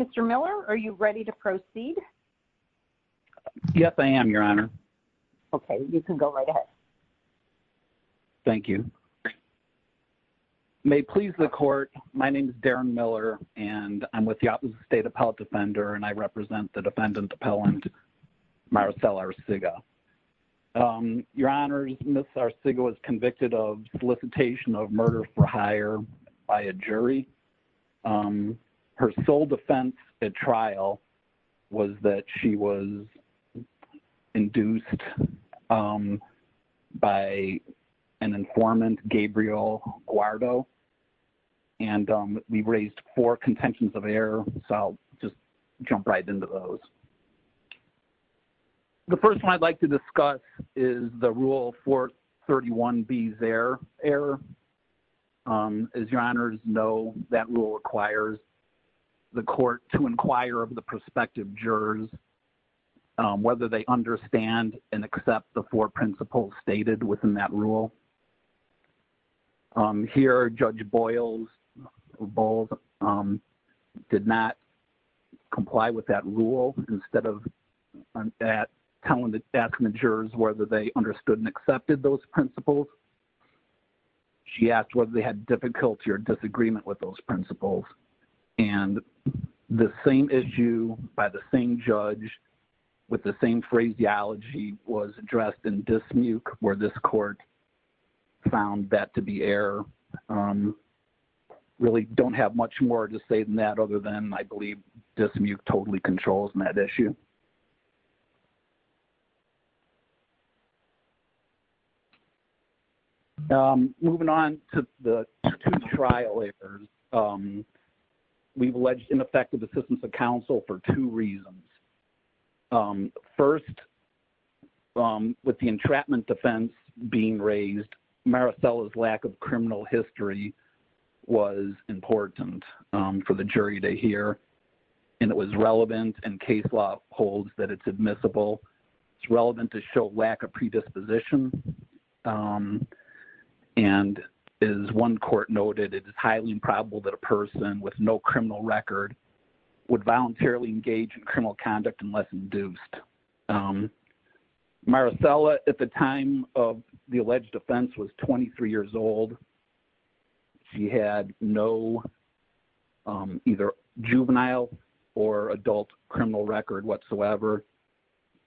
Mr. Miller, are you ready to proceed? Yes, I am, Your Honor. Okay, you can go right ahead. Thank you. May it please the Court, my name is Darren Miller, and I'm with the Office of State Appellate Defender, and I represent the defendant appellant, Maricel Arciga. Your Honor, Ms. Arciga was convicted of solicitation of murder for hire by a jury. Her sole defense at trial was that she was induced by an informant, Gabriel Guardo, and we raised four contentions of error, so I'll just jump right into those. The first one I'd like to discuss is the Rule 431B's error. As Your Honors know, that rule requires the Court to inquire of the prospective jurors whether they understand and accept the four principles stated within that rule. Here, Judge Bowles did not comply with that rule. Instead of telling the jurors whether they understood and accepted those principles, she asked whether they had difficulty or disagreement with those principles. And the same issue by the same judge with the same phraseology was addressed in dismuke, where this Court found that to be error. Really don't have much more to say than that other than I believe dismuke totally controls that issue. Moving on to the two trial errors, we've alleged ineffective assistance of counsel for two reasons. First, with the entrapment defense being raised, Maricela's lack of criminal history was important for the jury to hear, and it was relevant, and case law holds that it's admissible. It's relevant to show lack of predisposition. And as one court noted, it is highly improbable that a person with no criminal record would voluntarily engage in criminal conduct unless induced. Maricela, at the time of the alleged offense, was 23 years old. She had no either juvenile or adult criminal record whatsoever,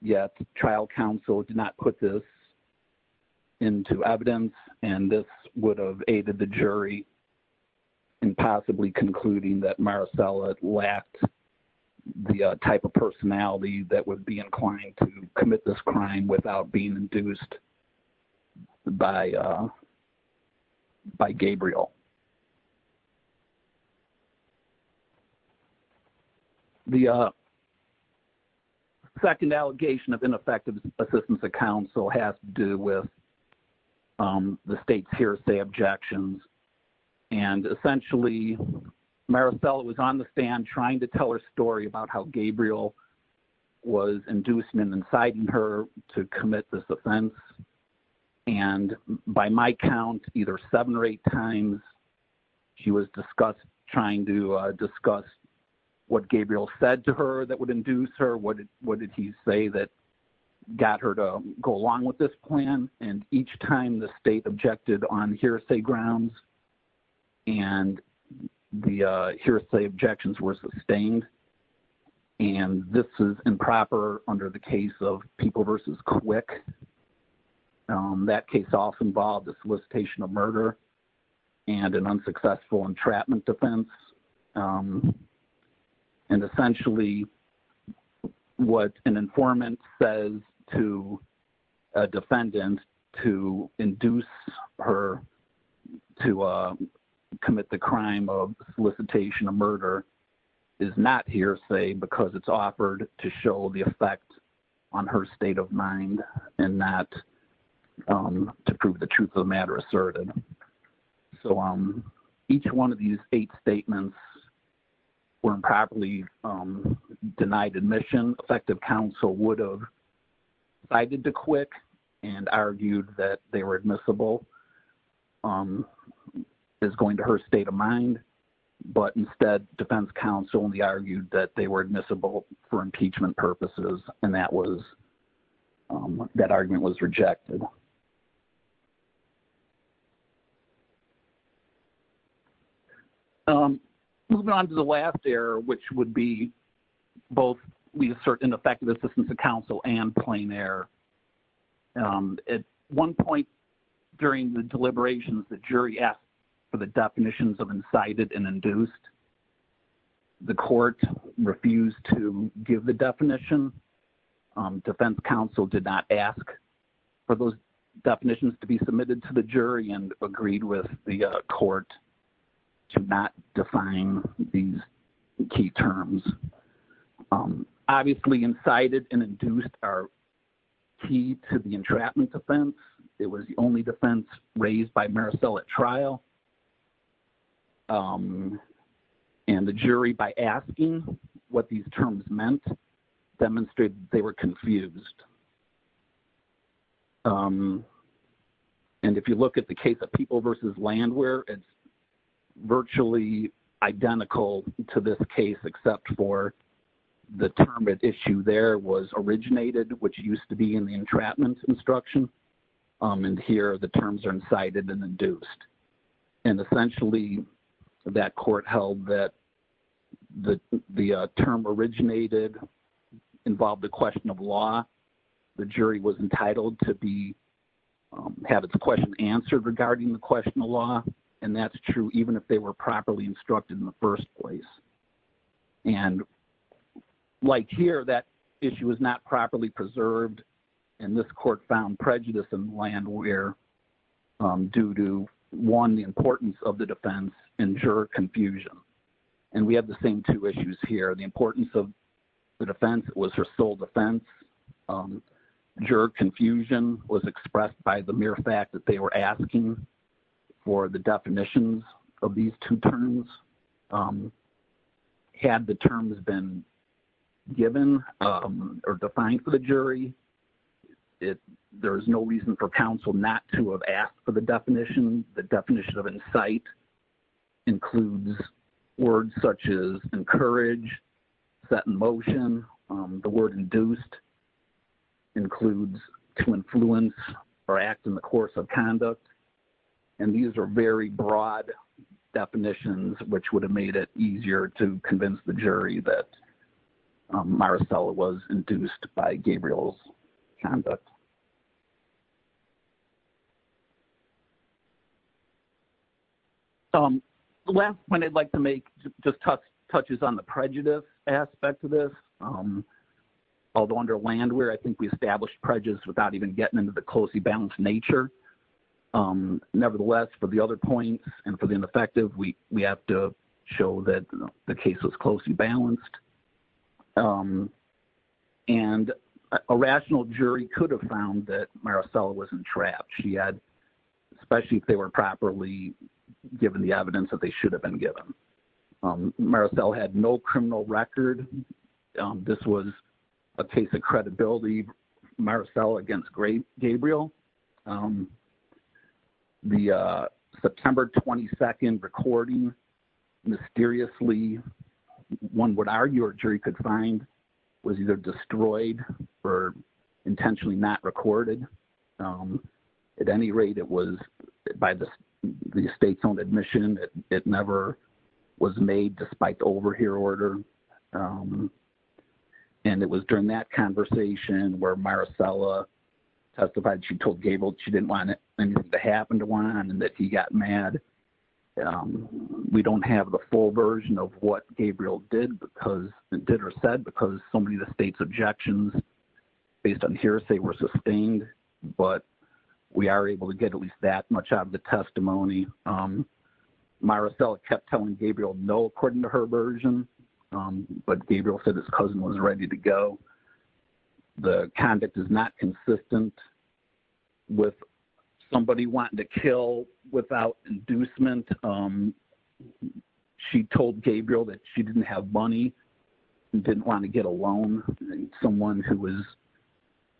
yet trial counsel did not put this into evidence, and this would have aided the jury in possibly concluding that Maricela lacked the type of personality that would be inclined to commit this crime without being induced by by Gabriel. The second allegation of ineffective assistance of counsel has to do with the state's hearsay objections, and essentially, Maricela was on the stand trying to tell her story about how Gabriel was inducing and inciting her to commit this offense, and by my count, either seven or eight times, she was discussed trying to discuss what Gabriel said to her that would induce her, what did he say that got her to go along with this plan, and each time, the state objected on hearsay grounds, and the hearsay objections were sustained, and this is improper under the case of People v. Quick. That case also involved a solicitation of murder and an unsuccessful entrapment defense, and essentially, what an informant says to a defendant to induce her to commit the crime of solicitation of murder is not hearsay because it's offered to show the effect on her state of mind and not to prove the truth of the matter asserted. So each one of these eight statements were improperly denied admission. Effective counsel would have decided to quit and argued that they were admissible as going to her state of mind, but instead, defense counsel only argued that they were admissible for impeachment purposes, and that argument was rejected. Moving on to the last error, which would be both we assert ineffective assistance of counsel and plain error. At one point during the deliberations, the jury asked for the definitions of incited and induced. The court refused to give the definition. Defense counsel did not ask for those definitions to be submitted to the jury and agreed with the court to not define these key terms. Obviously, incited and induced are key to the entrapment defense. It was the only defense raised by Marisol at trial, and the jury, by asking what these terms meant, demonstrated they were confused. And if you look at the case of People v. Landware, it's virtually identical to this case except for the term at issue there was originated, which used to be in the entrapment instruction, and here the terms are incited and induced. And essentially, that court held that the term originated involved a question of law. The jury was entitled to have its question answered regarding the question of law, and that's true even if they were properly instructed in the first place. And like here, that issue was not properly preserved, and this court found prejudice in Landware due to, one, the importance of the defense and juror confusion. And we have the same two issues here. The importance of the defense was her sole defense. Juror confusion was expressed by the mere fact that they were asking for the definitions of these two terms. Had the terms been given or defined for the jury, there is no reason for counsel not to have asked for the definition. The definition of incite includes words such as encourage, set in motion. The word induced includes to influence or act in the course of conduct. And these are very broad definitions, which would have made it easier to convince the jury that Maricela was induced by Gabriel's conduct. The last point I'd like to make just touches on the prejudice aspect of this. Although under Landware, I think we established prejudice without even getting into the closely balanced nature. Nevertheless, for the other points and for the ineffective, we have to show that the case was closely balanced. And a rational jury could have found that Maricela wasn't trapped. She had, especially if they were properly given the evidence that they should have been given. Maricela had no criminal record. This was a case of credibility, Maricela against Gabriel. The September 22nd recording mysteriously, one would argue a jury could find was either destroyed or intentionally not recorded. At any rate, it was by the state's own admission. It never was made despite the overhear order. And it was during that conversation where Maricela testified, she told Gabriel she didn't want anything to happen to Juan and that he got mad. We don't have the full version of what Gabriel did or said because so many of the state's objections based on hearsay were sustained. But we are able to get at least that much out of the testimony. Maricela kept telling Gabriel no, according to her version, but Gabriel said his cousin was ready to go. The conduct is not consistent with somebody wanting to kill without inducement. She told Gabriel that she didn't have money and didn't want to get a loan. Someone who was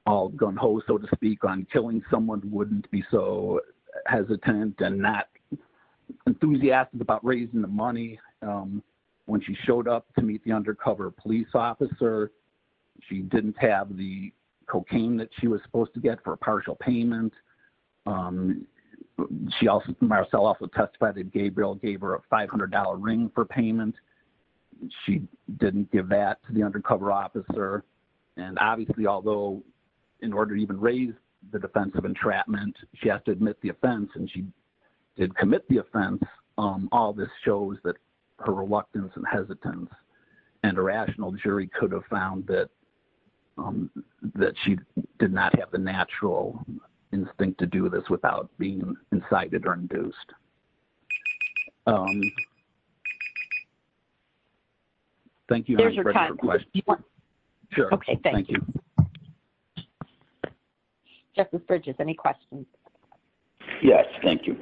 all gung ho, so to speak, on killing someone wouldn't be so hesitant and not enthusiastic about raising the money. When she showed up to meet the undercover police officer, she didn't have the cocaine that she was supposed to get for a partial payment. Maricela also testified that Gabriel gave her a $500 ring for payment. She didn't give that to the undercover officer. And obviously, although in order to even raise the defense of entrapment, she has to admit the offense and she did commit the offense, all this shows that her reluctance and hesitance and irrational jury could have found that she did not have the natural instinct to do this without being incited or induced. Thank you. Okay, thank you. Any questions? Yes, thank you.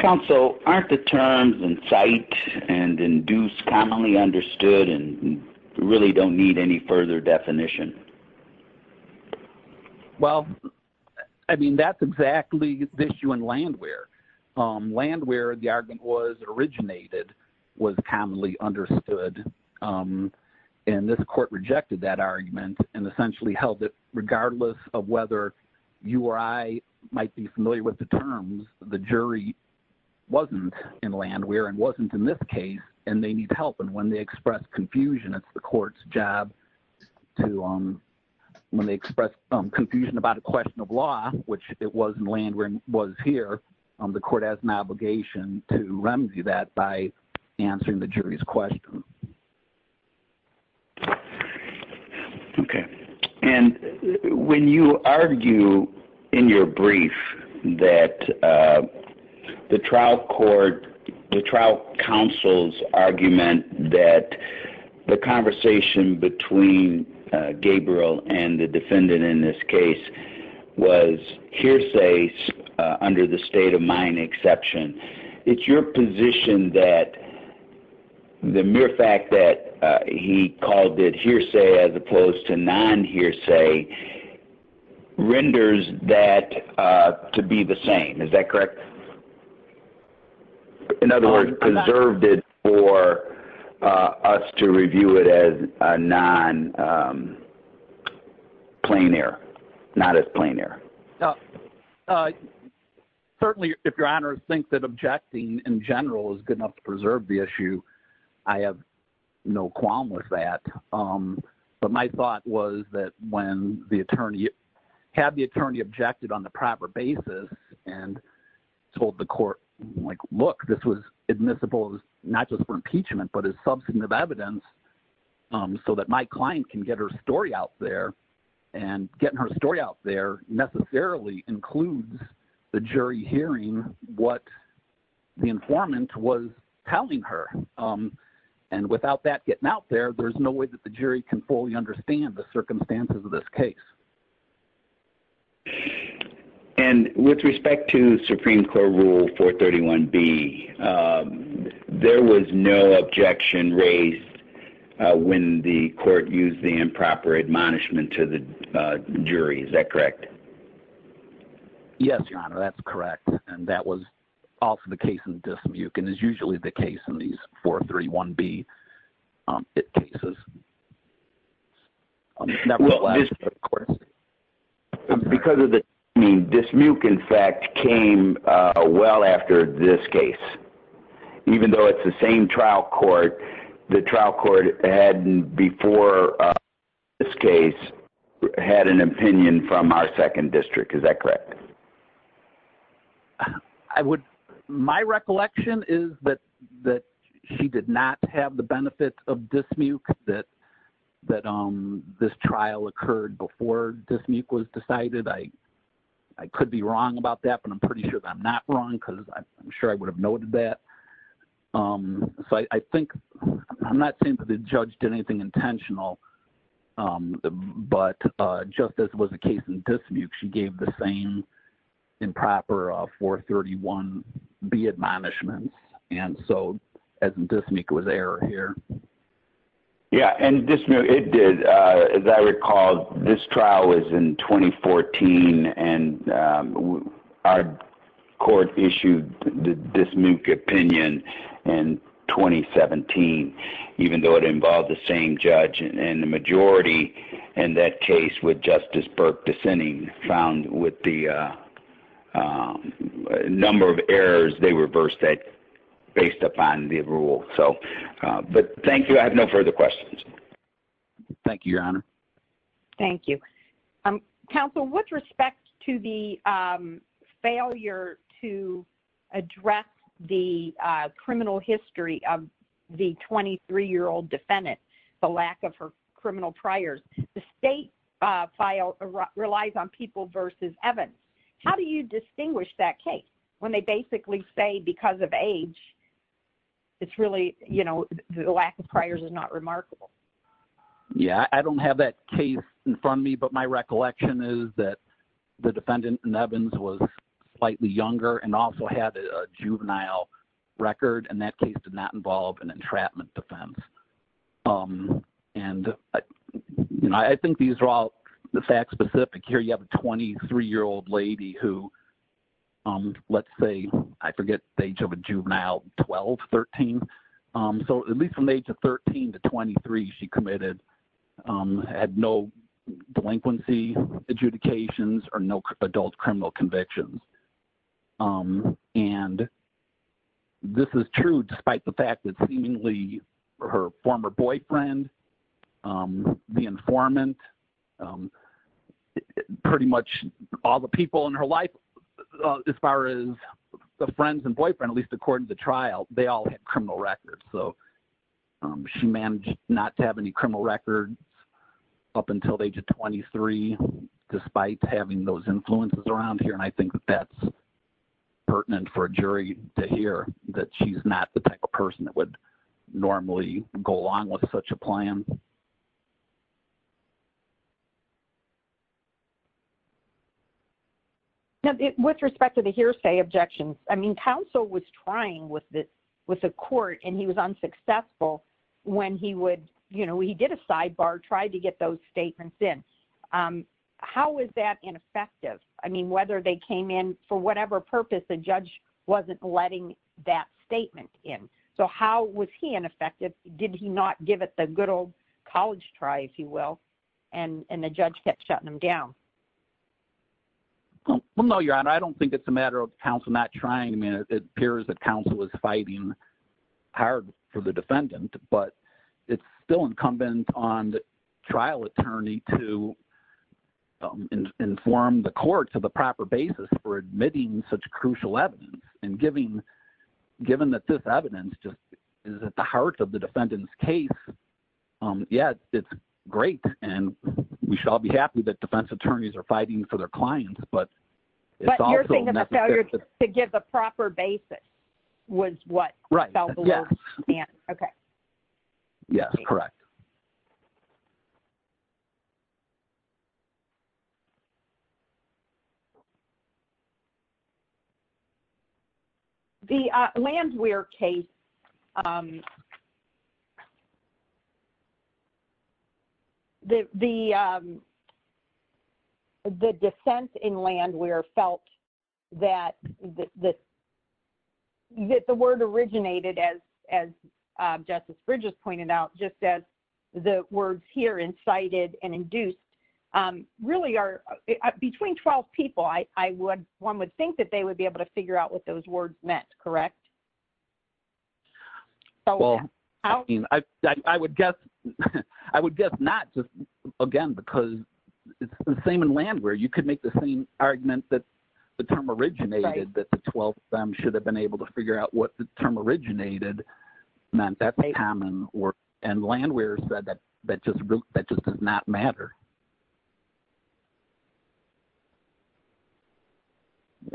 Counsel, aren't the terms incite and induce commonly understood and really don't need any further definition? Well, I mean, that's exactly the issue in Landwehr. Landwehr, the argument was originated, was commonly understood, and this court rejected that argument and essentially held that regardless of whether you or I might be familiar with the terms, the jury wasn't in Landwehr and wasn't in this case and they need help. And when they express confusion, it's the court's job to, when they express confusion about a question of law, which it was in Landwehr and was here, the court has an obligation to remedy that by answering the jury's question. Okay. The fact that he called it hearsay as opposed to non-hearsay renders that to be the same, is that correct? In other words, preserved it for us to review it as a non-plain air, not as plain air. Certainly, if your honors think that objecting in general is good enough to preserve the issue, I have no qualms with that. But my thought was that when the attorney, had the attorney objected on the proper basis and told the court, like, look, this was admissible, not just for impeachment, but as substantive evidence so that my client can get her story out there and getting her story out there necessarily includes the jury hearing what the informant was telling her. And without that getting out there, there's no way that the jury can fully understand the circumstances of this case. And with respect to Supreme Court Rule 431B, there was no objection raised when the court used the improper admonishment to the jury. Is that correct? Yes, your honor, that's correct. And that was also the case in Dismuke and is usually the case in these 431B cases. Because of the timing, Dismuke, in fact, came well after this case. Even though it's the same trial court, the trial court had, before this case, had an opinion from our second district. Is that correct? My recollection is that she did not have the benefit of Dismuke that this trial occurred before Dismuke was decided. I could be wrong about that, but I'm pretty sure that I'm not wrong because I'm sure I would have noted that. I'm not saying that the judge did anything intentional, but just as was the case in Dismuke, she gave the same improper 431B admonishment. And so, as in Dismuke, it was error here. Yeah, and Dismuke, it did. As I recall, this trial was in 2014 and our court issued the Dismuke opinion in 2017. Even though it involved the same judge and the majority in that case with Justice Burke dissenting, found with the number of errors, they reversed that based upon the rule. But thank you. I have no further questions. Thank you, Your Honor. Thank you. Counsel, with respect to the failure to address the criminal history of the 23-year-old defendant, the lack of her criminal priors, the state relies on People v. Evans. How do you distinguish that case when they basically say because of age, it's really, you know, the lack of priors is not remarkable? Yeah, I don't have that case in front of me, but my recollection is that the defendant in Evans was slightly younger and also had a juvenile record, and that case did not involve an entrapment defense. And I think these are all fact-specific. Here you have a 23-year-old lady who, let's say, I forget the age of a juvenile, 12, 13. So at least from the age of 13 to 23, she committed – had no delinquency adjudications or no adult criminal convictions. And this is true despite the fact that seemingly her former boyfriend, the informant, pretty much all the people in her life as far as the friends and boyfriend, at least according to trial, they all had criminal records. So she managed not to have any criminal records up until the age of 23 despite having those influences around here, and I think that that's pertinent for a jury to hear that she's not the type of person that would normally go along with such a plan. With respect to the hearsay objections, I mean, counsel was trying with the court, and he was unsuccessful when he would – you know, he did a sidebar, tried to get those statements in. How was that ineffective? I mean, whether they came in – for whatever purpose, the judge wasn't letting that statement in. So how was he ineffective? Did he not give it the good old college try, if you will, and the judge kept shutting him down? Well, no, Your Honor, I don't think it's a matter of counsel not trying. I mean, it appears that counsel was fighting hard for the defendant, but it's still incumbent on the trial attorney to inform the court to the proper basis for admitting such crucial evidence. And given that this evidence just is at the heart of the defendant's case, yes, it's great, and we shall be happy that defense attorneys are fighting for their clients, but it's also necessary. But you're saying that the failure to give a proper basis was what fell below the standard. Right, yes. Okay. Yes, correct. The Landwehr case – the defense in Landwehr felt that the word originated, as Justice Bridges pointed out, just as the words here, incited and induced, really are – between 12 people, I would – one would think that they would be able to figure out what those words meant, correct? Well, I mean, I would guess not just, again, because it's the same in Landwehr. You could make the same argument that the term originated, that the 12 of them should have been able to figure out what the term originated meant. That's common, and Landwehr said that just does not matter.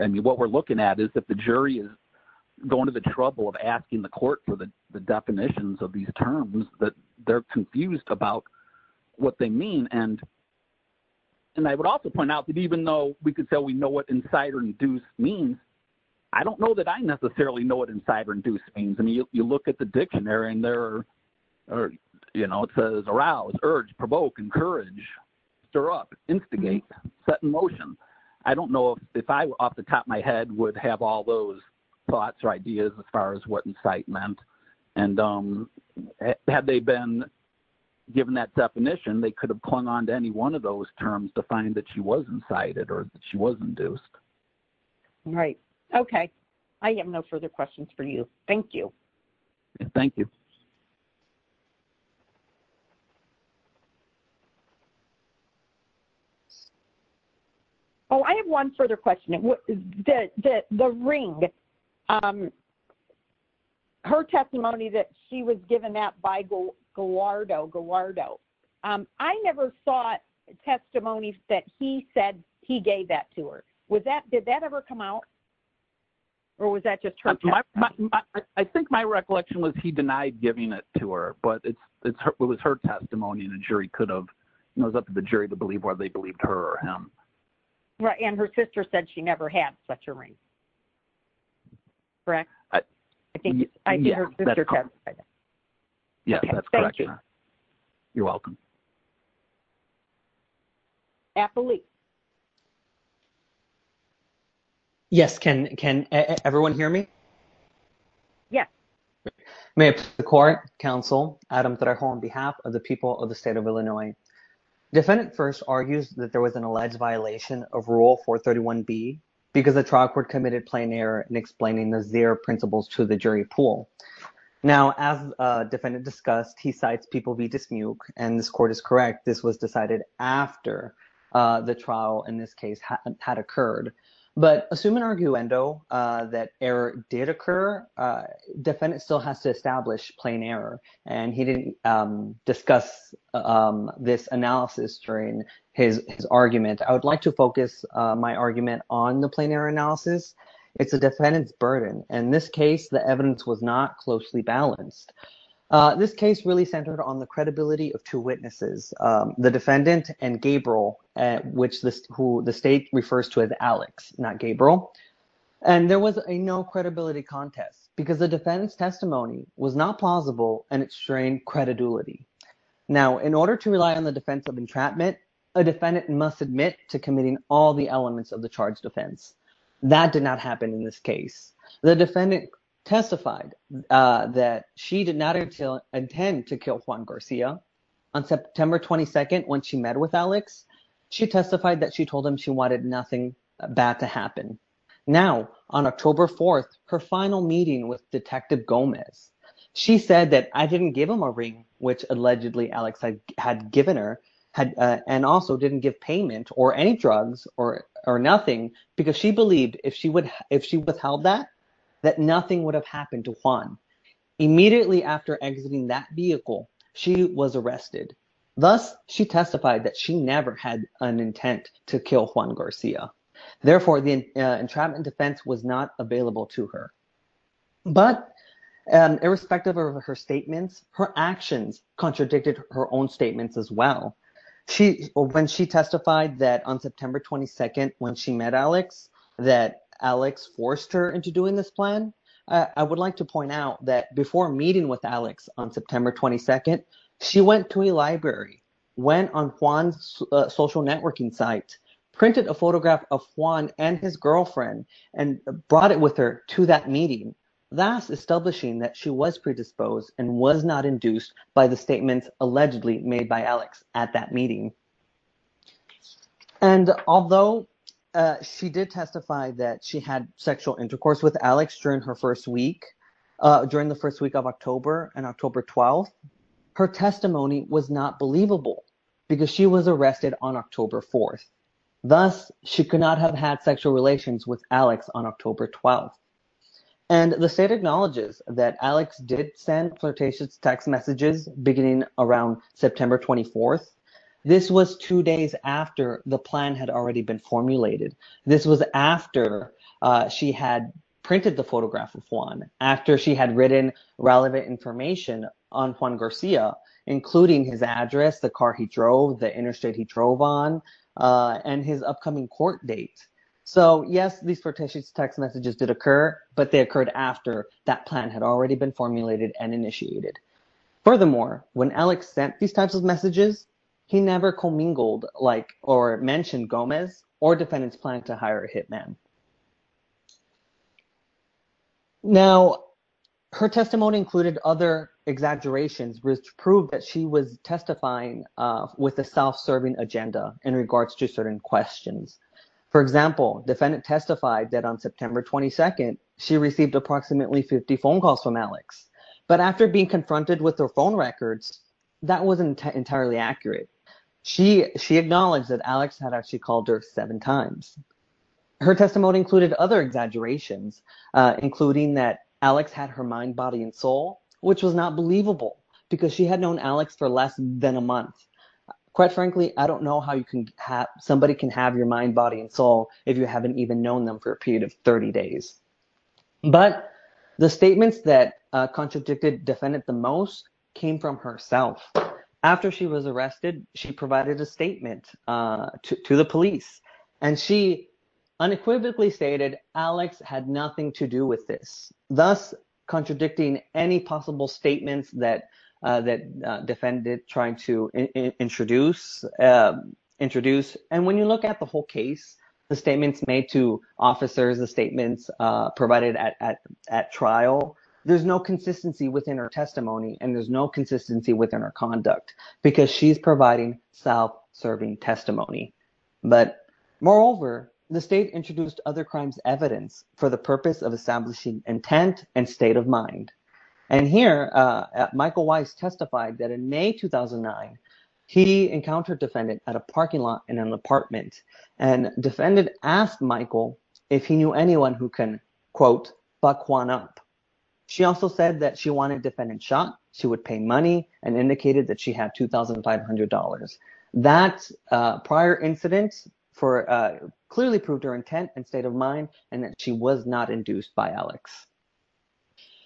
I mean, what we're looking at is that the jury is going to the trouble of asking the court for the definitions of these terms that they're confused about what they mean. And I would also point out that even though we could say we know what incite or induce means, I don't know that I necessarily know what incite or induce means. I mean, you look at the dictionary, and there are – you know, it says arouse, urge, provoke, encourage, stir up, instigate, set in motion. I don't know if I, off the top of my head, would have all those thoughts or ideas as far as what incite meant. And had they been given that definition, they could have clung on to any one of those terms to find that she was incited or that she was induced. All right. Okay. I have no further questions for you. Thank you. Thank you. Oh, I have one further question. The ring. Okay. Her testimony that she was given that by Gallardo. I never saw testimony that he said he gave that to her. Did that ever come out, or was that just her testimony? I think my recollection was he denied giving it to her, but it was her testimony, and the jury could have – it was up to the jury to believe whether they believed her or him. Right. And her sister said she never had such a ring. Correct. I think her sister testified that. Yeah, that's correct. Thank you. You're welcome. Yes. Can everyone hear me? Yes. May it please the court, counsel, Adam Trejo, on behalf of the people of the state of Illinois. Defendant first argues that there was an alleged violation of Rule 431B because the trial court committed plain error in explaining the zero principles to the jury pool. Now, as defendant discussed, he cites people v. Dismuke, and this court is correct. This was decided after the trial in this case had occurred. But assume in arguendo that error did occur, defendant still has to establish plain error, and he didn't discuss this analysis during his argument. I would like to focus my argument on the plain error analysis. It's the defendant's burden. In this case, the evidence was not closely balanced. This case really centered on the credibility of two witnesses, the defendant and Gabriel, who the state refers to as Alex, not Gabriel. And there was a no credibility contest because the defendant's testimony was not plausible and it strained credibility. Now, in order to rely on the defense of entrapment, a defendant must admit to committing all the elements of the charged offense. That did not happen in this case. The defendant testified that she did not intend to kill Juan Garcia. On September 22nd, when she met with Alex, she testified that she told him she wanted nothing bad to happen. Now, on October 4th, her final meeting with Detective Gomez. She said that I didn't give him a ring, which allegedly Alex had given her, and also didn't give payment or any drugs or nothing because she believed if she would if she withheld that, that nothing would have happened to Juan. Immediately after exiting that vehicle, she was arrested. Thus, she testified that she never had an intent to kill Juan Garcia. Therefore, the entrapment defense was not available to her. But irrespective of her statements, her actions contradicted her own statements as well. When she testified that on September 22nd, when she met Alex, that Alex forced her into doing this plan, I would like to point out that before meeting with Alex on September 22nd, she went to a library, went on Juan's social networking site, printed a photograph of Juan and his girlfriend, and brought it with her to that meeting, thus establishing that she was predisposed and was not induced by the statements allegedly made by Alex at that meeting. And although she did testify that she had sexual intercourse with Alex during her first week, during the first week of October and October 12th, her testimony was not believable because she was arrested on October 4th. Thus, she could not have had sexual relations with Alex on October 12th. And the state acknowledges that Alex did send flirtatious text messages beginning around September 24th. This was two days after the plan had already been formulated. This was after she had printed the photograph of Juan, after she had written relevant information on Juan Garcia, including his address, the car he drove, the interstate he drove on, and his upcoming court date. So, yes, these flirtatious text messages did occur, but they occurred after that plan had already been formulated and initiated. Furthermore, when Alex sent these types of messages, he never commingled or mentioned Gomez or defendants planning to hire a hitman. Now, her testimony included other exaggerations which proved that she was testifying with a self-serving agenda in regards to certain questions. For example, defendant testified that on September 22nd, she received approximately 50 phone calls from Alex. But after being confronted with her phone records, that wasn't entirely accurate. She acknowledged that Alex had actually called her seven times. Her testimony included other exaggerations, including that Alex had her mind, body, and soul, which was not believable because she had known Alex for less than a month. Quite frankly, I don't know how somebody can have your mind, body, and soul if you haven't even known them for a period of 30 days. But the statements that contradicted defendant the most came from herself. After she was arrested, she provided a statement to the police, and she unequivocally stated Alex had nothing to do with this, thus contradicting any possible statements that defendant tried to introduce. And when you look at the whole case, the statements made to officers, the statements provided at trial, there's no consistency within her testimony and there's no consistency within her conduct because she's providing self-serving testimony. But moreover, the state introduced other crimes evidence for the purpose of establishing intent and state of mind. And here, Michael Weiss testified that in May 2009, he encountered defendant at a parking lot in an apartment, and defendant asked Michael if he knew anyone who can, quote, fuck Juan up. She also said that she wanted defendant shot. She would pay money and indicated that she had $2,500. That prior incident clearly proved her intent and state of mind and that she was not induced by Alex.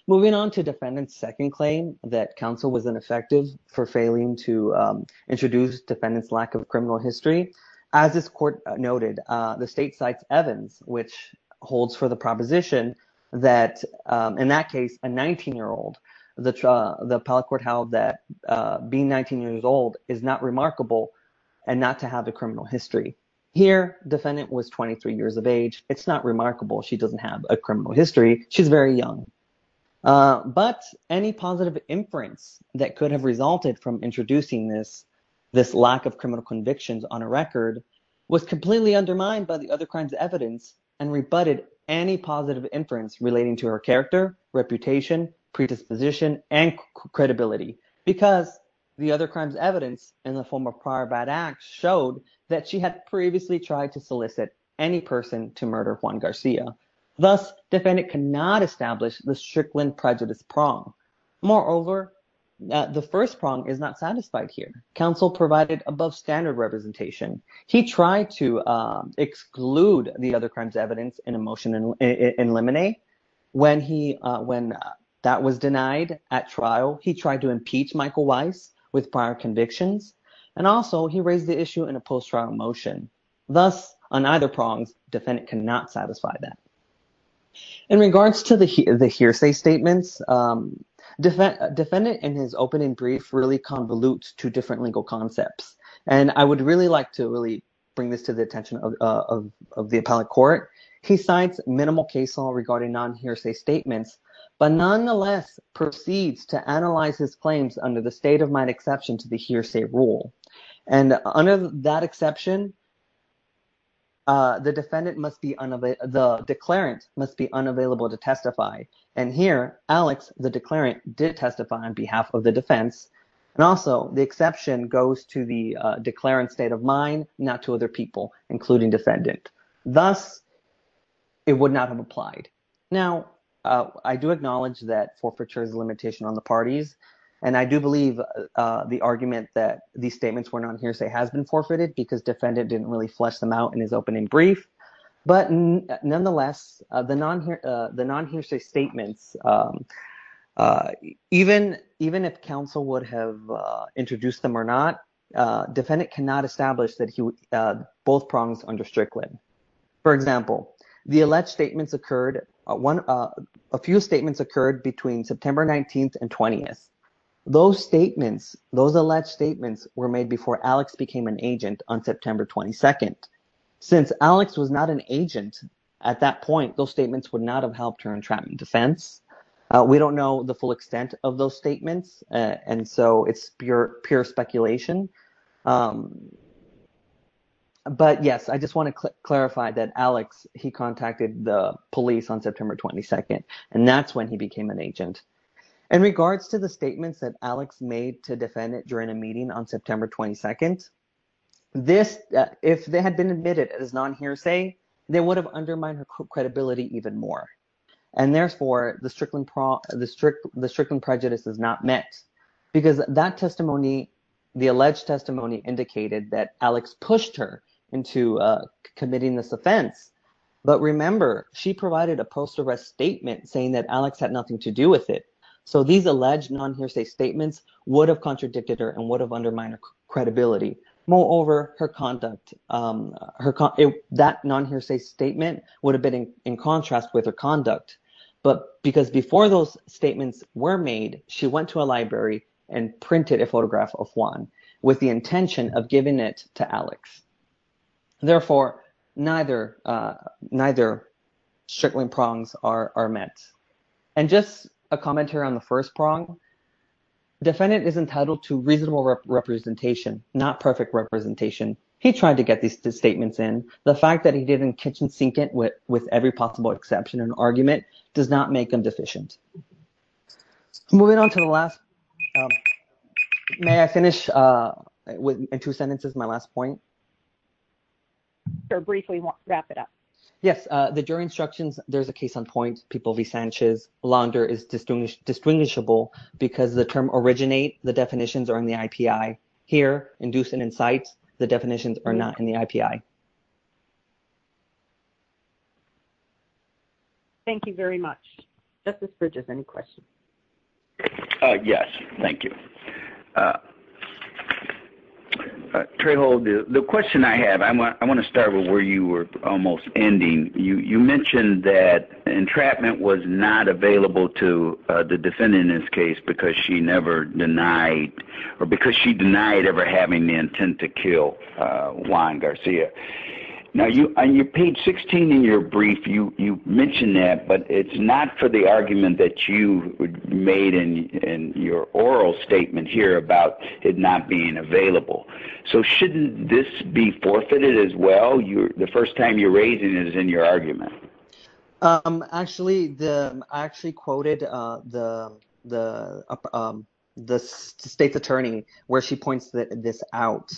Moving on to defendant's second claim that counsel was ineffective for failing to introduce defendant's lack of criminal history. As this court noted, the state cites Evans, which holds for the proposition that in that case, a 19-year-old, the appellate court held that being 19 years old is not remarkable and not to have a criminal history. Here, defendant was 23 years of age. It's not remarkable. She doesn't have a criminal history. She's very young. But any positive inference that could have resulted from introducing this, this lack of criminal convictions on a record was completely undermined by the other crimes evidence and rebutted any positive inference relating to her character, reputation, predisposition and credibility, because the other crimes evidence in the form of prior bad acts showed that she had previously tried to solicit any person to murder Juan Garcia. Thus, defendant cannot establish the Strickland prejudice prong. Moreover, the first prong is not satisfied here. Counsel provided above standard representation. He tried to exclude the other crimes evidence in a motion in limine. When he when that was denied at trial, he tried to impeach Michael Weiss with prior convictions. And also he raised the issue in a post-trial motion. Thus, on either prongs, defendant cannot satisfy that. In regards to the hearsay statements, defendant and his opening brief really convolute to different legal concepts. And I would really like to really bring this to the attention of the appellate court. He cites minimal case law regarding non hearsay statements, but nonetheless proceeds to analyze his claims under the state of mind exception to the hearsay rule. And under that exception. The defendant must be unavailable. The declarant must be unavailable to testify. And here, Alex, the declarant did testify on behalf of the defense. And also the exception goes to the declarant state of mind, not to other people, including defendant. Thus. It would not have applied. Now, I do acknowledge that forfeiture is a limitation on the parties. And I do believe the argument that these statements were not hearsay has been forfeited because defendant didn't really flesh them out in his opening brief. But nonetheless, the non the non hearsay statements, even even if counsel would have introduced them or not, defendant cannot establish that he both prongs under Strickland. For example, the alleged statements occurred. One of a few statements occurred between September 19th and 20th. Those statements, those alleged statements were made before Alex became an agent on September 22nd. Since Alex was not an agent at that point, those statements would not have helped her entrapment defense. We don't know the full extent of those statements. And so it's pure, pure speculation. But, yes, I just want to clarify that Alex, he contacted the police on September 22nd, and that's when he became an agent. In regards to the statements that Alex made to defend it during a meeting on September 22nd. This if they had been admitted as non hearsay, they would have undermined her credibility even more. And therefore the Strickland, the Strickland prejudice is not met because that testimony, the alleged testimony indicated that Alex pushed her into committing this offense. But remember, she provided a post arrest statement saying that Alex had nothing to do with it. So these alleged non hearsay statements would have contradicted her and would have undermined her credibility. Moreover, her conduct, her that non hearsay statement would have been in contrast with her conduct. But because before those statements were made, she went to a library and printed a photograph of one with the intention of giving it to Alex. Therefore, neither neither Strickland prongs are met. And just a commentary on the first prong defendant is entitled to reasonable representation, not perfect representation. He tried to get these two statements in the fact that he didn't kitchen sink it with with every possible exception. An argument does not make them deficient. Moving on to the last. May I finish with two sentences? My last point. Briefly wrap it up. Yes. The jury instructions. There's a case on point. People be Sanchez. Blonder is distinguished distinguishable because the term originate. The definitions are in the IPI here. Induce an insight. The definitions are not in the IPI. Thank you very much. Just as bridges. Any questions? Yes. Thank you. Trejo, the question I have, I want to start with where you were almost ending. You mentioned that entrapment was not available to the defendant in this case because she never denied or because she denied ever having the intent to kill Juan Garcia. Now, you paid 16 in your brief. You mentioned that. But it's not for the argument that you made in your oral statement here about it not being available. So shouldn't this be forfeited as well? You're the first time you're raising is in your argument. Actually, the actually quoted the the the state's attorney where she points this out.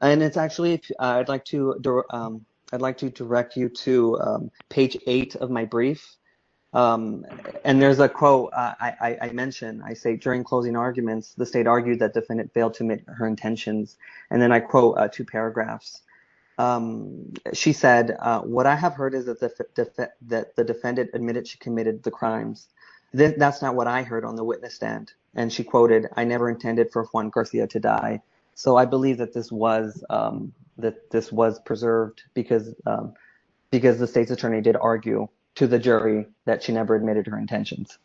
And it's actually I'd like to I'd like to direct you to page eight of my brief. And there's a quote I mentioned. I say during closing arguments, the state argued that defendant failed to meet her intentions. And then I quote two paragraphs. She said, what I have heard is that the that the defendant admitted she committed the crimes. That's not what I heard on the witness stand. And she quoted, I never intended for Juan Garcia to die. So I believe that this was that this was preserved because because the state's attorney did argue to the jury that she never admitted her intentions.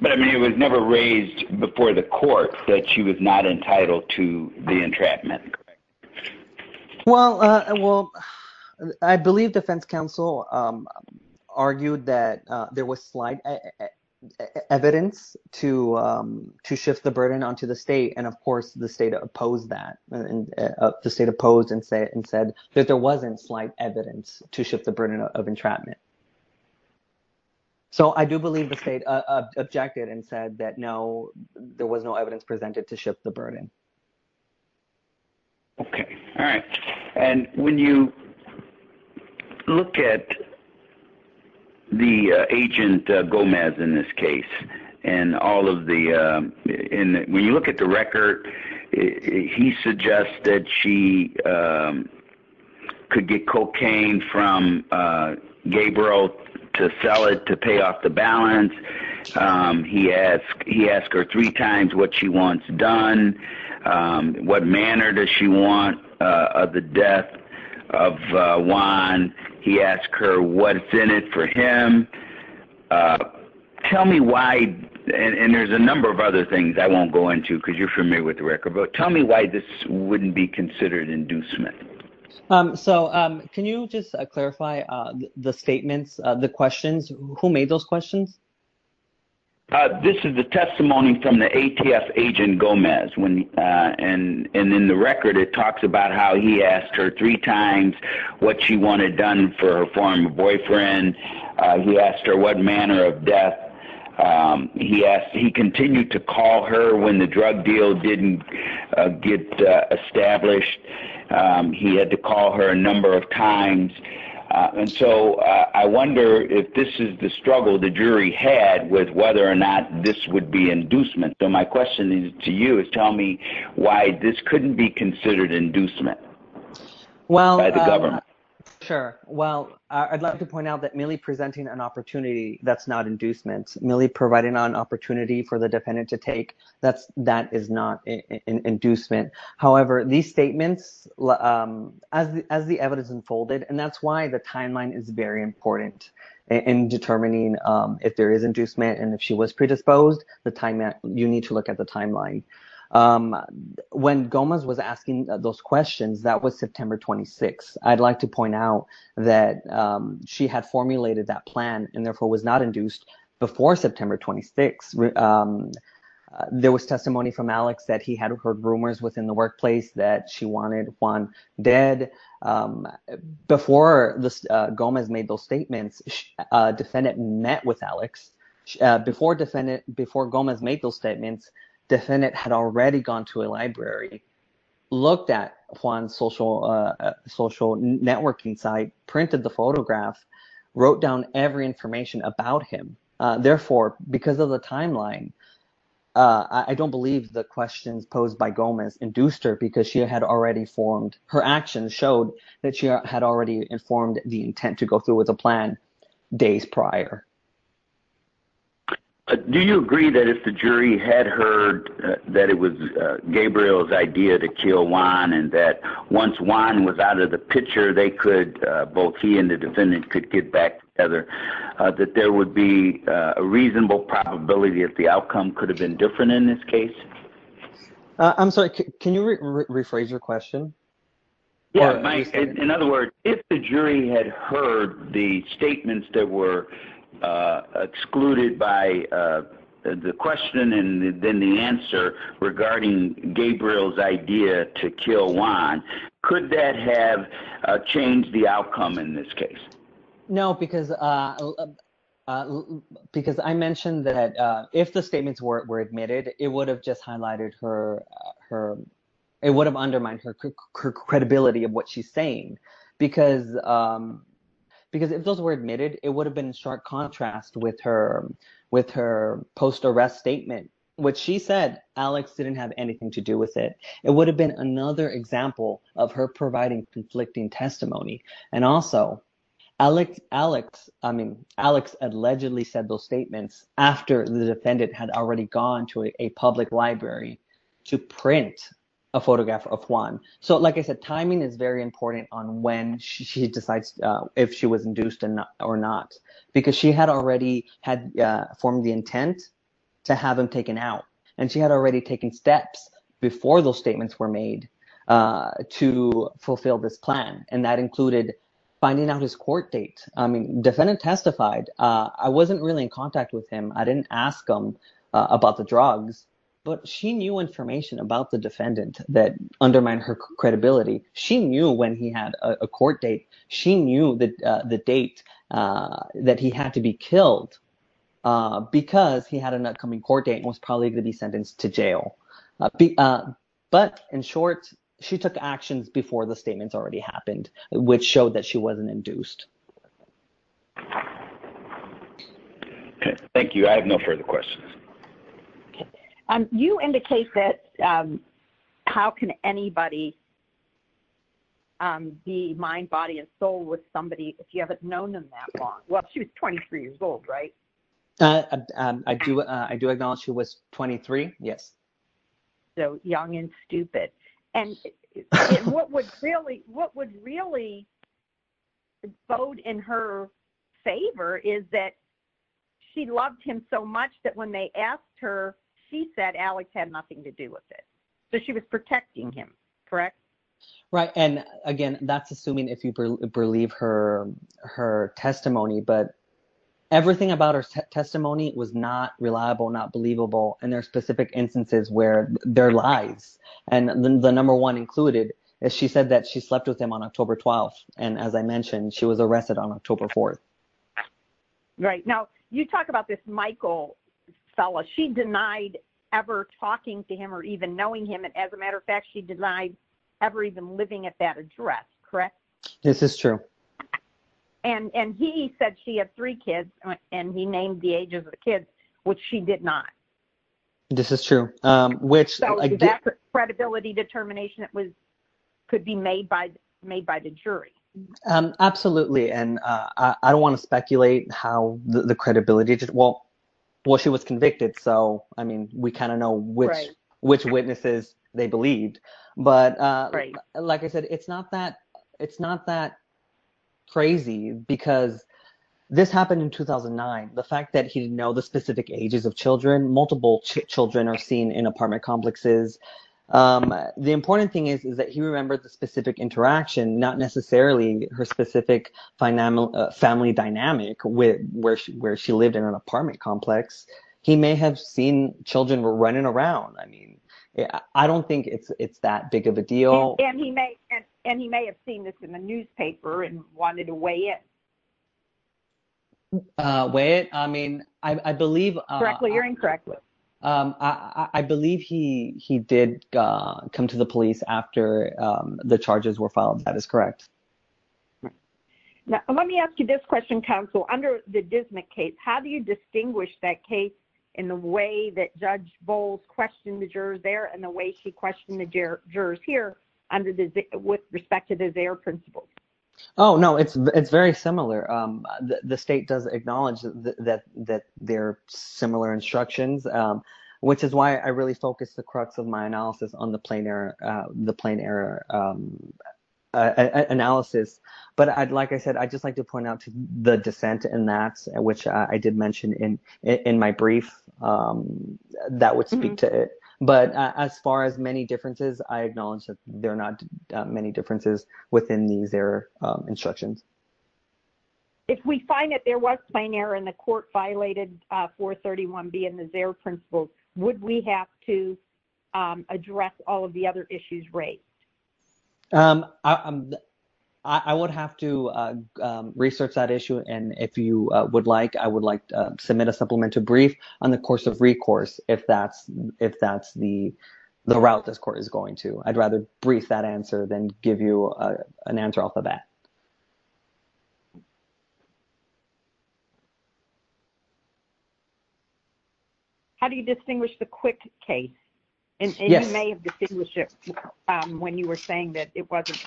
But I mean, it was never raised before the court that she was not entitled to the entrapment. Well, I will. I believe defense counsel argued that there was slight evidence to to shift the burden onto the state. And of course, the state opposed that the state opposed and said and said that there wasn't slight evidence to shift the burden of entrapment. So I do believe the state objected and said that, no, there was no evidence presented to shift the burden. OK. All right. And when you look at. The agent, Gomez, in this case and all of the in when you look at the record, he suggests that she could get cocaine from Gabriel to sell it to pay off the balance. He asked he asked her three times what she wants done. What manner does she want the death of Juan? He asked her what's in it for him. Tell me why. And there's a number of other things I won't go into because you're familiar with the record. But tell me why this wouldn't be considered inducement. So can you just clarify the statements, the questions, who made those questions? This is the testimony from the ATF agent Gomez. And in the record, it talks about how he asked her three times what she wanted done for her former boyfriend. He asked her what manner of death he asked. He continued to call her when the drug deal didn't get established. He had to call her a number of times. And so I wonder if this is the struggle the jury had with whether or not this would be inducement. So my question to you is tell me why this couldn't be considered inducement. Well, the government. Sure. Well, I'd like to point out that merely presenting an opportunity that's not inducement, merely providing an opportunity for the defendant to take. That's that is not an inducement. However, these statements as the evidence unfolded. And that's why the timeline is very important in determining if there is inducement. And if she was predisposed, the time that you need to look at the timeline when Gomez was asking those questions, that was September 26th. I'd like to point out that she had formulated that plan and therefore was not induced before September 26th. There was testimony from Alex that he had heard rumors within the workplace that she wanted one dead before Gomez made those statements. Defendant met with Alex before defendant before Gomez made those statements. Defendant had already gone to a library, looked at Juan's social social networking site, printed the photograph, wrote down every information about him. Therefore, because of the timeline, I don't believe the questions posed by Gomez induced her because she had already formed. Her actions showed that she had already informed the intent to go through with a plan days prior. Do you agree that if the jury had heard that it was Gabriel's idea to kill Juan and that once Juan was out of the picture, both he and the defendant could get back together, that there would be a reasonable probability that the outcome could have been different in this case? I'm sorry, can you rephrase your question? In other words, if the jury had heard the statements that were excluded by the question and then the answer regarding Gabriel's idea to kill Juan, could that have changed the outcome in this case? No, because I mentioned that if the statements were admitted, it would have just highlighted her, it would have undermined her credibility of what she's saying. Because if those were admitted, it would have been in stark contrast with her post-arrest statement, which she said Alex didn't have anything to do with it. It would have been another example of her providing conflicting testimony. And also, Alex allegedly said those statements after the defendant had already gone to a public library to print a photograph of Juan. So, like I said, timing is very important on when she decides if she was induced or not, because she had already formed the intent to have him taken out. And she had already taken steps before those statements were made to fulfill this plan. And that included finding out his court date. Defendant testified. I wasn't really in contact with him. I didn't ask him about the drugs. But she knew information about the defendant that undermined her credibility. She knew when he had a court date. She knew the date that he had to be killed because he had an upcoming court date and was probably going to be sentenced to jail. But in short, she took actions before the statements already happened, which showed that she wasn't induced. Thank you. I have no further questions. You indicate that how can anybody be mind, body and soul with somebody if you haven't known them that long? Well, she was 23 years old, right? I do. I do acknowledge she was 23. Yes. So young and stupid. And what would really what would really bode in her favor is that she loved him so much that when they asked her, she said Alex had nothing to do with it. So she was protecting him. Correct. Right. And again, that's assuming if you believe her, her testimony, but everything about her testimony was not reliable, not believable. And there are specific instances where their lives and the number one included. She said that she slept with him on October 12th. And as I mentioned, she was arrested on October 4th. Right now, you talk about this, Michael. She denied ever talking to him or even knowing him. And as a matter of fact, she denied ever even living at that address. Correct. This is true. And he said she had three kids and he named the ages of the kids, which she did not. This is true. Which credibility determination that was could be made by made by the jury. Absolutely. And I don't want to speculate how the credibility. Well, well, she was convicted. So, I mean, we kind of know which which witnesses they believed. But like I said, it's not that it's not that crazy because this happened in 2009. The fact that he didn't know the specific ages of children, multiple children are seen in apartment complexes. The important thing is, is that he remembered the specific interaction, not necessarily her specific financial family dynamic with where she where she lived in an apartment complex. He may have seen children were running around. I mean, I don't think it's that big of a deal. And he may and he may have seen this in the newspaper and wanted to weigh it. I mean, I believe. You're incorrect. I believe he he did come to the police after the charges were filed. That is correct. Now, let me ask you this question. Council under the Disney case. How do you distinguish that case in the way that Judge Bowles questioned the jurors there and the way she questioned the jurors here under the with respect to their principles? Oh, no, it's it's very similar. The state does acknowledge that that that they're similar instructions, which is why I really focus the crux of my analysis on the plane or the plane error analysis. But I'd like I said, I'd just like to point out to the dissent and that's which I did mention in in my brief that would speak to it. But as far as many differences, I acknowledge that there are not many differences within these their instructions. If we find that there was plane error in the court violated for 31 being the their principles, would we have to address all of the other issues raised? I would have to research that issue. And if you would like, I would like to submit a supplemental brief on the course of recourse. If that's if that's the the route this court is going to, I'd rather brief that answer than give you an answer off the bat. How do you distinguish the quick case? And you may have distinguished it when you were saying that it wasn't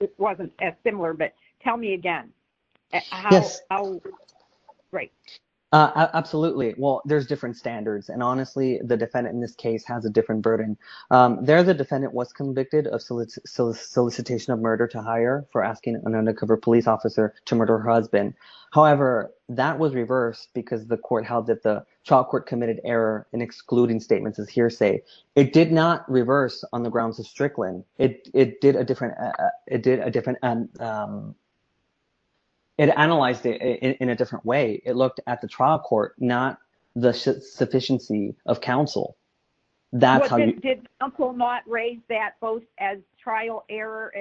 it wasn't as similar. But tell me again. Yes. Great. Absolutely. Well, there's different standards. And honestly, the defendant in this case has a different burden. There, the defendant was convicted of solicitation of murder to hire for asking an undercover police officer to murder her husband. However, that was reversed because the court held that the trial court committed error in excluding statements of hearsay. It did not reverse on the grounds of Strickland. It did a different it did a different. It analyzed it in a different way. It looked at the trial court, not the sufficiency of counsel. That's how you did not raise that both as trial error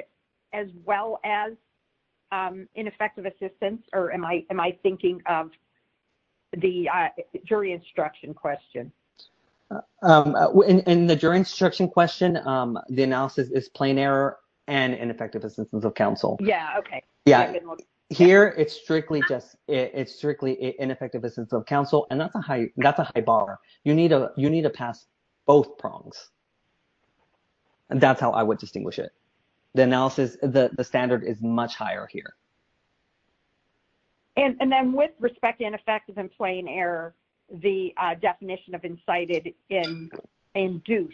as well as ineffective assistance. Or am I am I thinking of the jury instruction question in the jury instruction question? The analysis is plain error and ineffective assistance of counsel. Yeah. OK. Yeah. Here it's strictly just it's strictly ineffective assistance of counsel. And that's a high. That's a high bar. You need a you need to pass both prongs. And that's how I would distinguish it. The analysis. The standard is much higher here. And then with respect to ineffective and plain error, the definition of incited in and do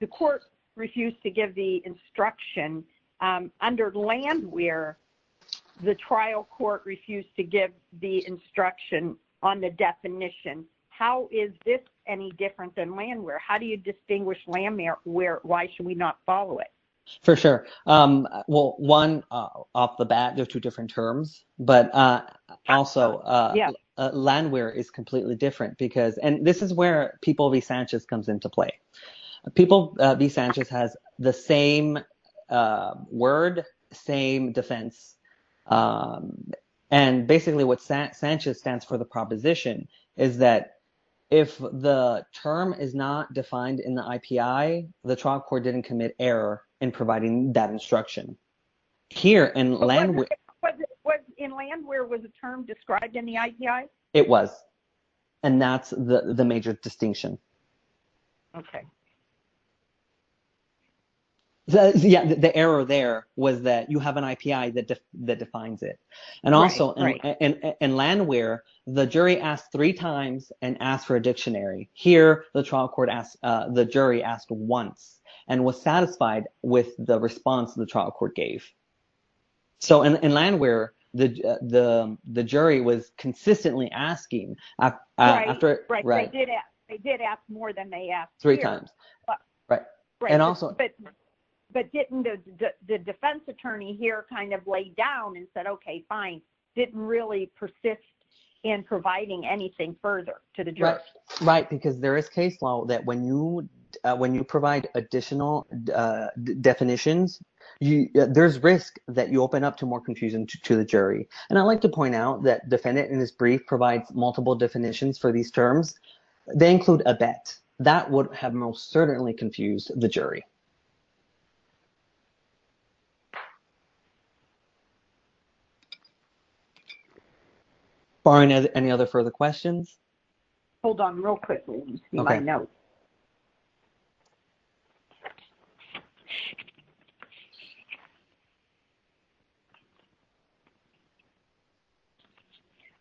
the court refused to give the instruction under land where the trial court refused to give the instruction. On the definition. How is this any different than land where? How do you distinguish land there? Where? Why should we not follow it? For sure. Well, one off the bat, there are two different terms. But also, yeah, land where is completely different because and this is where people be. Sanchez comes into play. People be. Sanchez has the same word, same defense. And basically what Sanchez stands for, the proposition is that if the term is not defined in the IPI, the trial court didn't commit error in providing that instruction here in land. What in land? Where was the term described in the IPI? It was. And that's the major distinction. OK. Yeah, the error there was that you have an IPI that that defines it. And also in land where the jury asked three times and asked for a dictionary here, the trial court asked the jury asked once and was satisfied with the response of the trial court gave. So in land where the the the jury was consistently asking after it. Right. They did ask more than they asked three times. Right. And also. But didn't the defense attorney here kind of lay down and said, OK, fine. Didn't really persist in providing anything further to the jury. Right. Because there is case law that when you when you provide additional definitions, there's risk that you open up to more confusion to the jury. And I'd like to point out that defendant in this brief provides multiple definitions for these terms. They include a bet that would have most certainly confused the jury. Barney, any other further questions? Hold on real quickly. OK, now.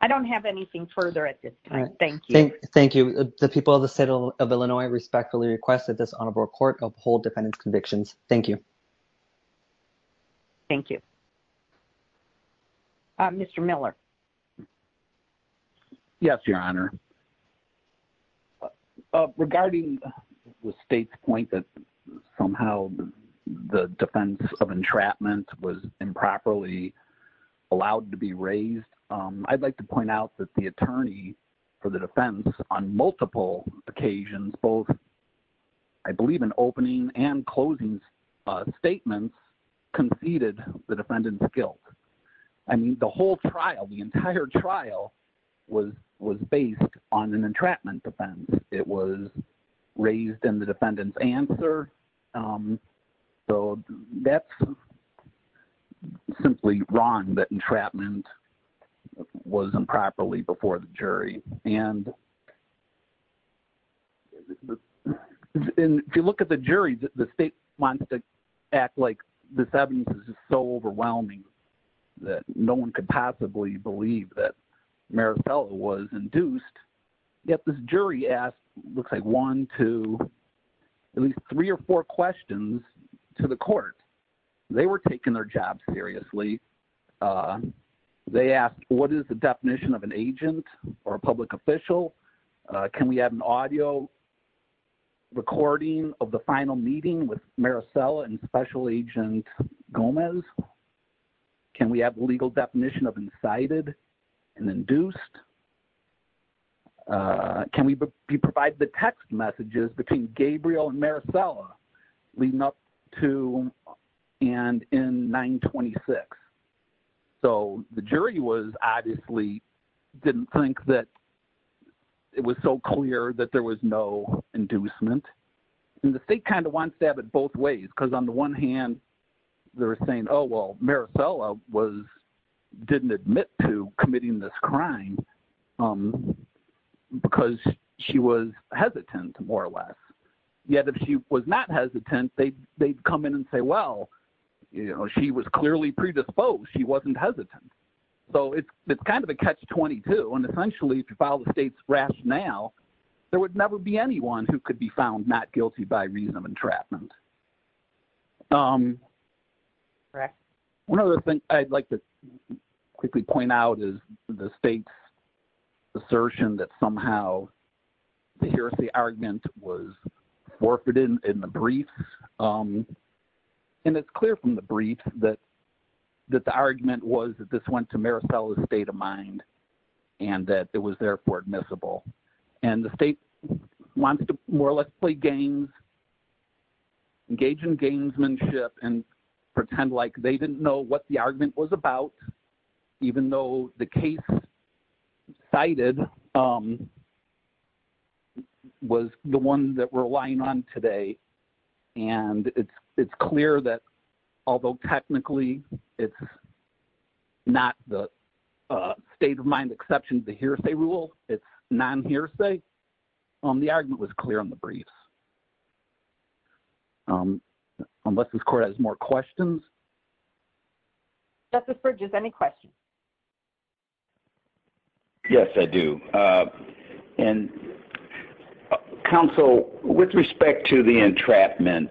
I don't have anything further at this point. Thank you. Thank you. The people of the state of Illinois respectfully request that this honorable court of hold defendant's convictions. Thank you. Thank you. Mr. Miller. Yes, your honor. Regarding the state's point that somehow the defense of entrapment was improperly allowed to be raised. I'd like to point out that the attorney for the defense on multiple occasions, both. I believe an opening and closing statements conceded the defendant's guilt. I mean, the whole trial, the entire trial was was based on an entrapment defense. It was raised in the defendant's answer. So that's simply wrong. That entrapment was improperly before the jury. And if you look at the jury, the state wants to act like this evidence is so overwhelming that no one could possibly believe that Maricela was induced. Yet this jury asked looks like one to at least three or four questions to the court. They were taking their job seriously. They asked, what is the definition of an agent or a public official? Can we have an audio recording of the final meeting with Maricela and Special Agent Gomez? Can we have a legal definition of incited and induced? Can we provide the text messages between Gabriel and Maricela leading up to and in nine twenty six? So the jury was obviously didn't think that it was so clear that there was no inducement. And the state kind of wants to have it both ways, because on the one hand, they're saying, oh, well, Maricela was didn't admit to committing this crime because she was hesitant, more or less. Yet, if she was not hesitant, they they'd come in and say, well, she was clearly predisposed. She wasn't hesitant. So it's kind of a catch 22. And essentially, if you follow the state's rationale, there would never be anyone who could be found not guilty by reason of entrapment. One of the things I'd like to quickly point out is the state's assertion that somehow the argument was forfeited in the brief. And it's clear from the brief that that the argument was that this went to Maricela's state of mind and that it was therefore admissible. And the state wants to more or less play games, engage in gamesmanship and pretend like they didn't know what the argument was about, even though the case cited was the one that we're relying on today. And it's it's clear that although technically it's not the state of mind exceptions, the hearsay rule, it's non hearsay on the argument was clear on the briefs. Unless this court has more questions. Justice Bridges, any questions? Yes, I do. And counsel, with respect to the entrapment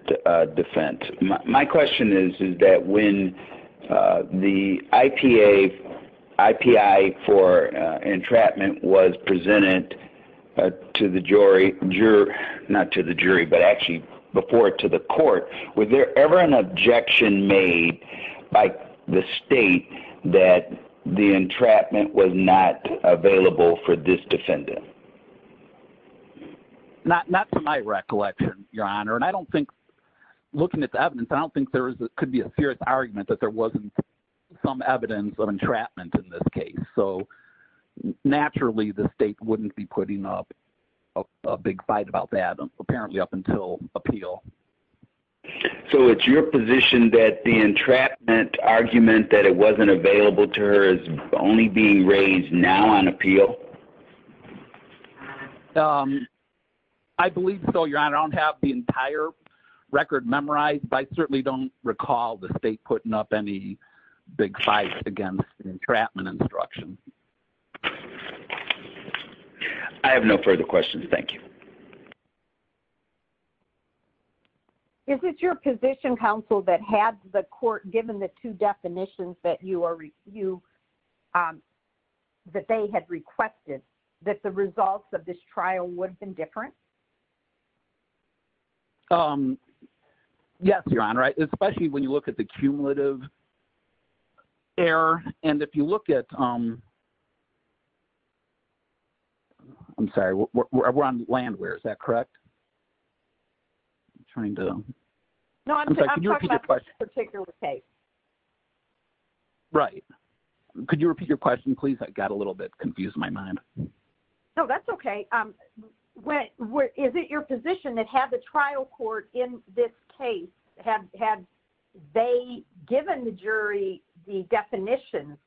defense, my question is, is that when the IPA IPI for entrapment was presented to the jury, juror, not to the jury, but actually before it to the court. Was there ever an objection made by the state that the entrapment was not available for this defendant? Not not to my recollection, Your Honor, and I don't think looking at the evidence, I don't think there could be a serious argument that there wasn't some evidence of entrapment in this case. So naturally, the state wouldn't be putting up a big fight about that. Apparently, up until appeal. So it's your position that the entrapment argument that it wasn't available to her is only being raised now on appeal. I believe so, Your Honor, I don't have the entire record memorized, but I certainly don't recall the state putting up any big fights against the entrapment instruction. I have no further questions. Thank you. Is it your position, counsel, that had the court given the two definitions that you are you. That they had requested that the results of this trial would have been different. Yes, Your Honor, especially when you look at the cumulative error. And if you look at. I'm sorry, we're on land where is that correct? I'm trying to know. Right. Could you repeat your question? Please? I got a little bit confused my mind. No, that's okay. Is it your position that had the trial court in this case had had they given the jury the definition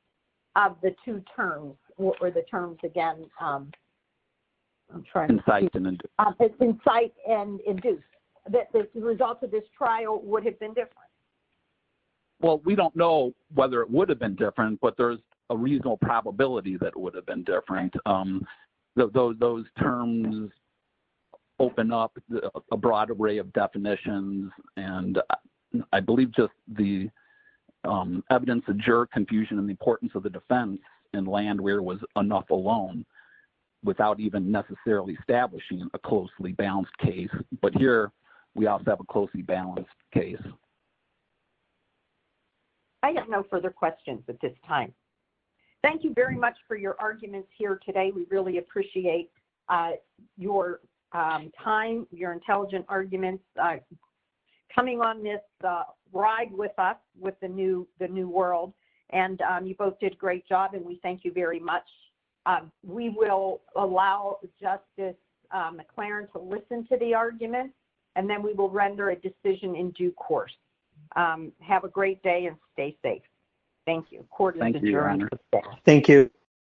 of the two terms or the terms again? I'm sorry. Incite and induce. Incite and induce. That the results of this trial would have been different. Well, we don't know whether it would have been different, but there's a reasonable probability that it would have been different. Those terms open up a broad array of definitions, and I believe just the evidence of juror confusion and the importance of the defense and land where was enough alone without even necessarily establishing a closely balanced case. But here we also have a closely balanced case. I have no further questions at this time. Thank you very much for your arguments here today. We really appreciate your time, your intelligent arguments coming on this ride with us with the new the new world. And you both did a great job and we thank you very much. We will allow justice McLaren to listen to the argument, and then we will render a decision in due course. Have a great day and stay safe. Thank you. Thank you. Thank you.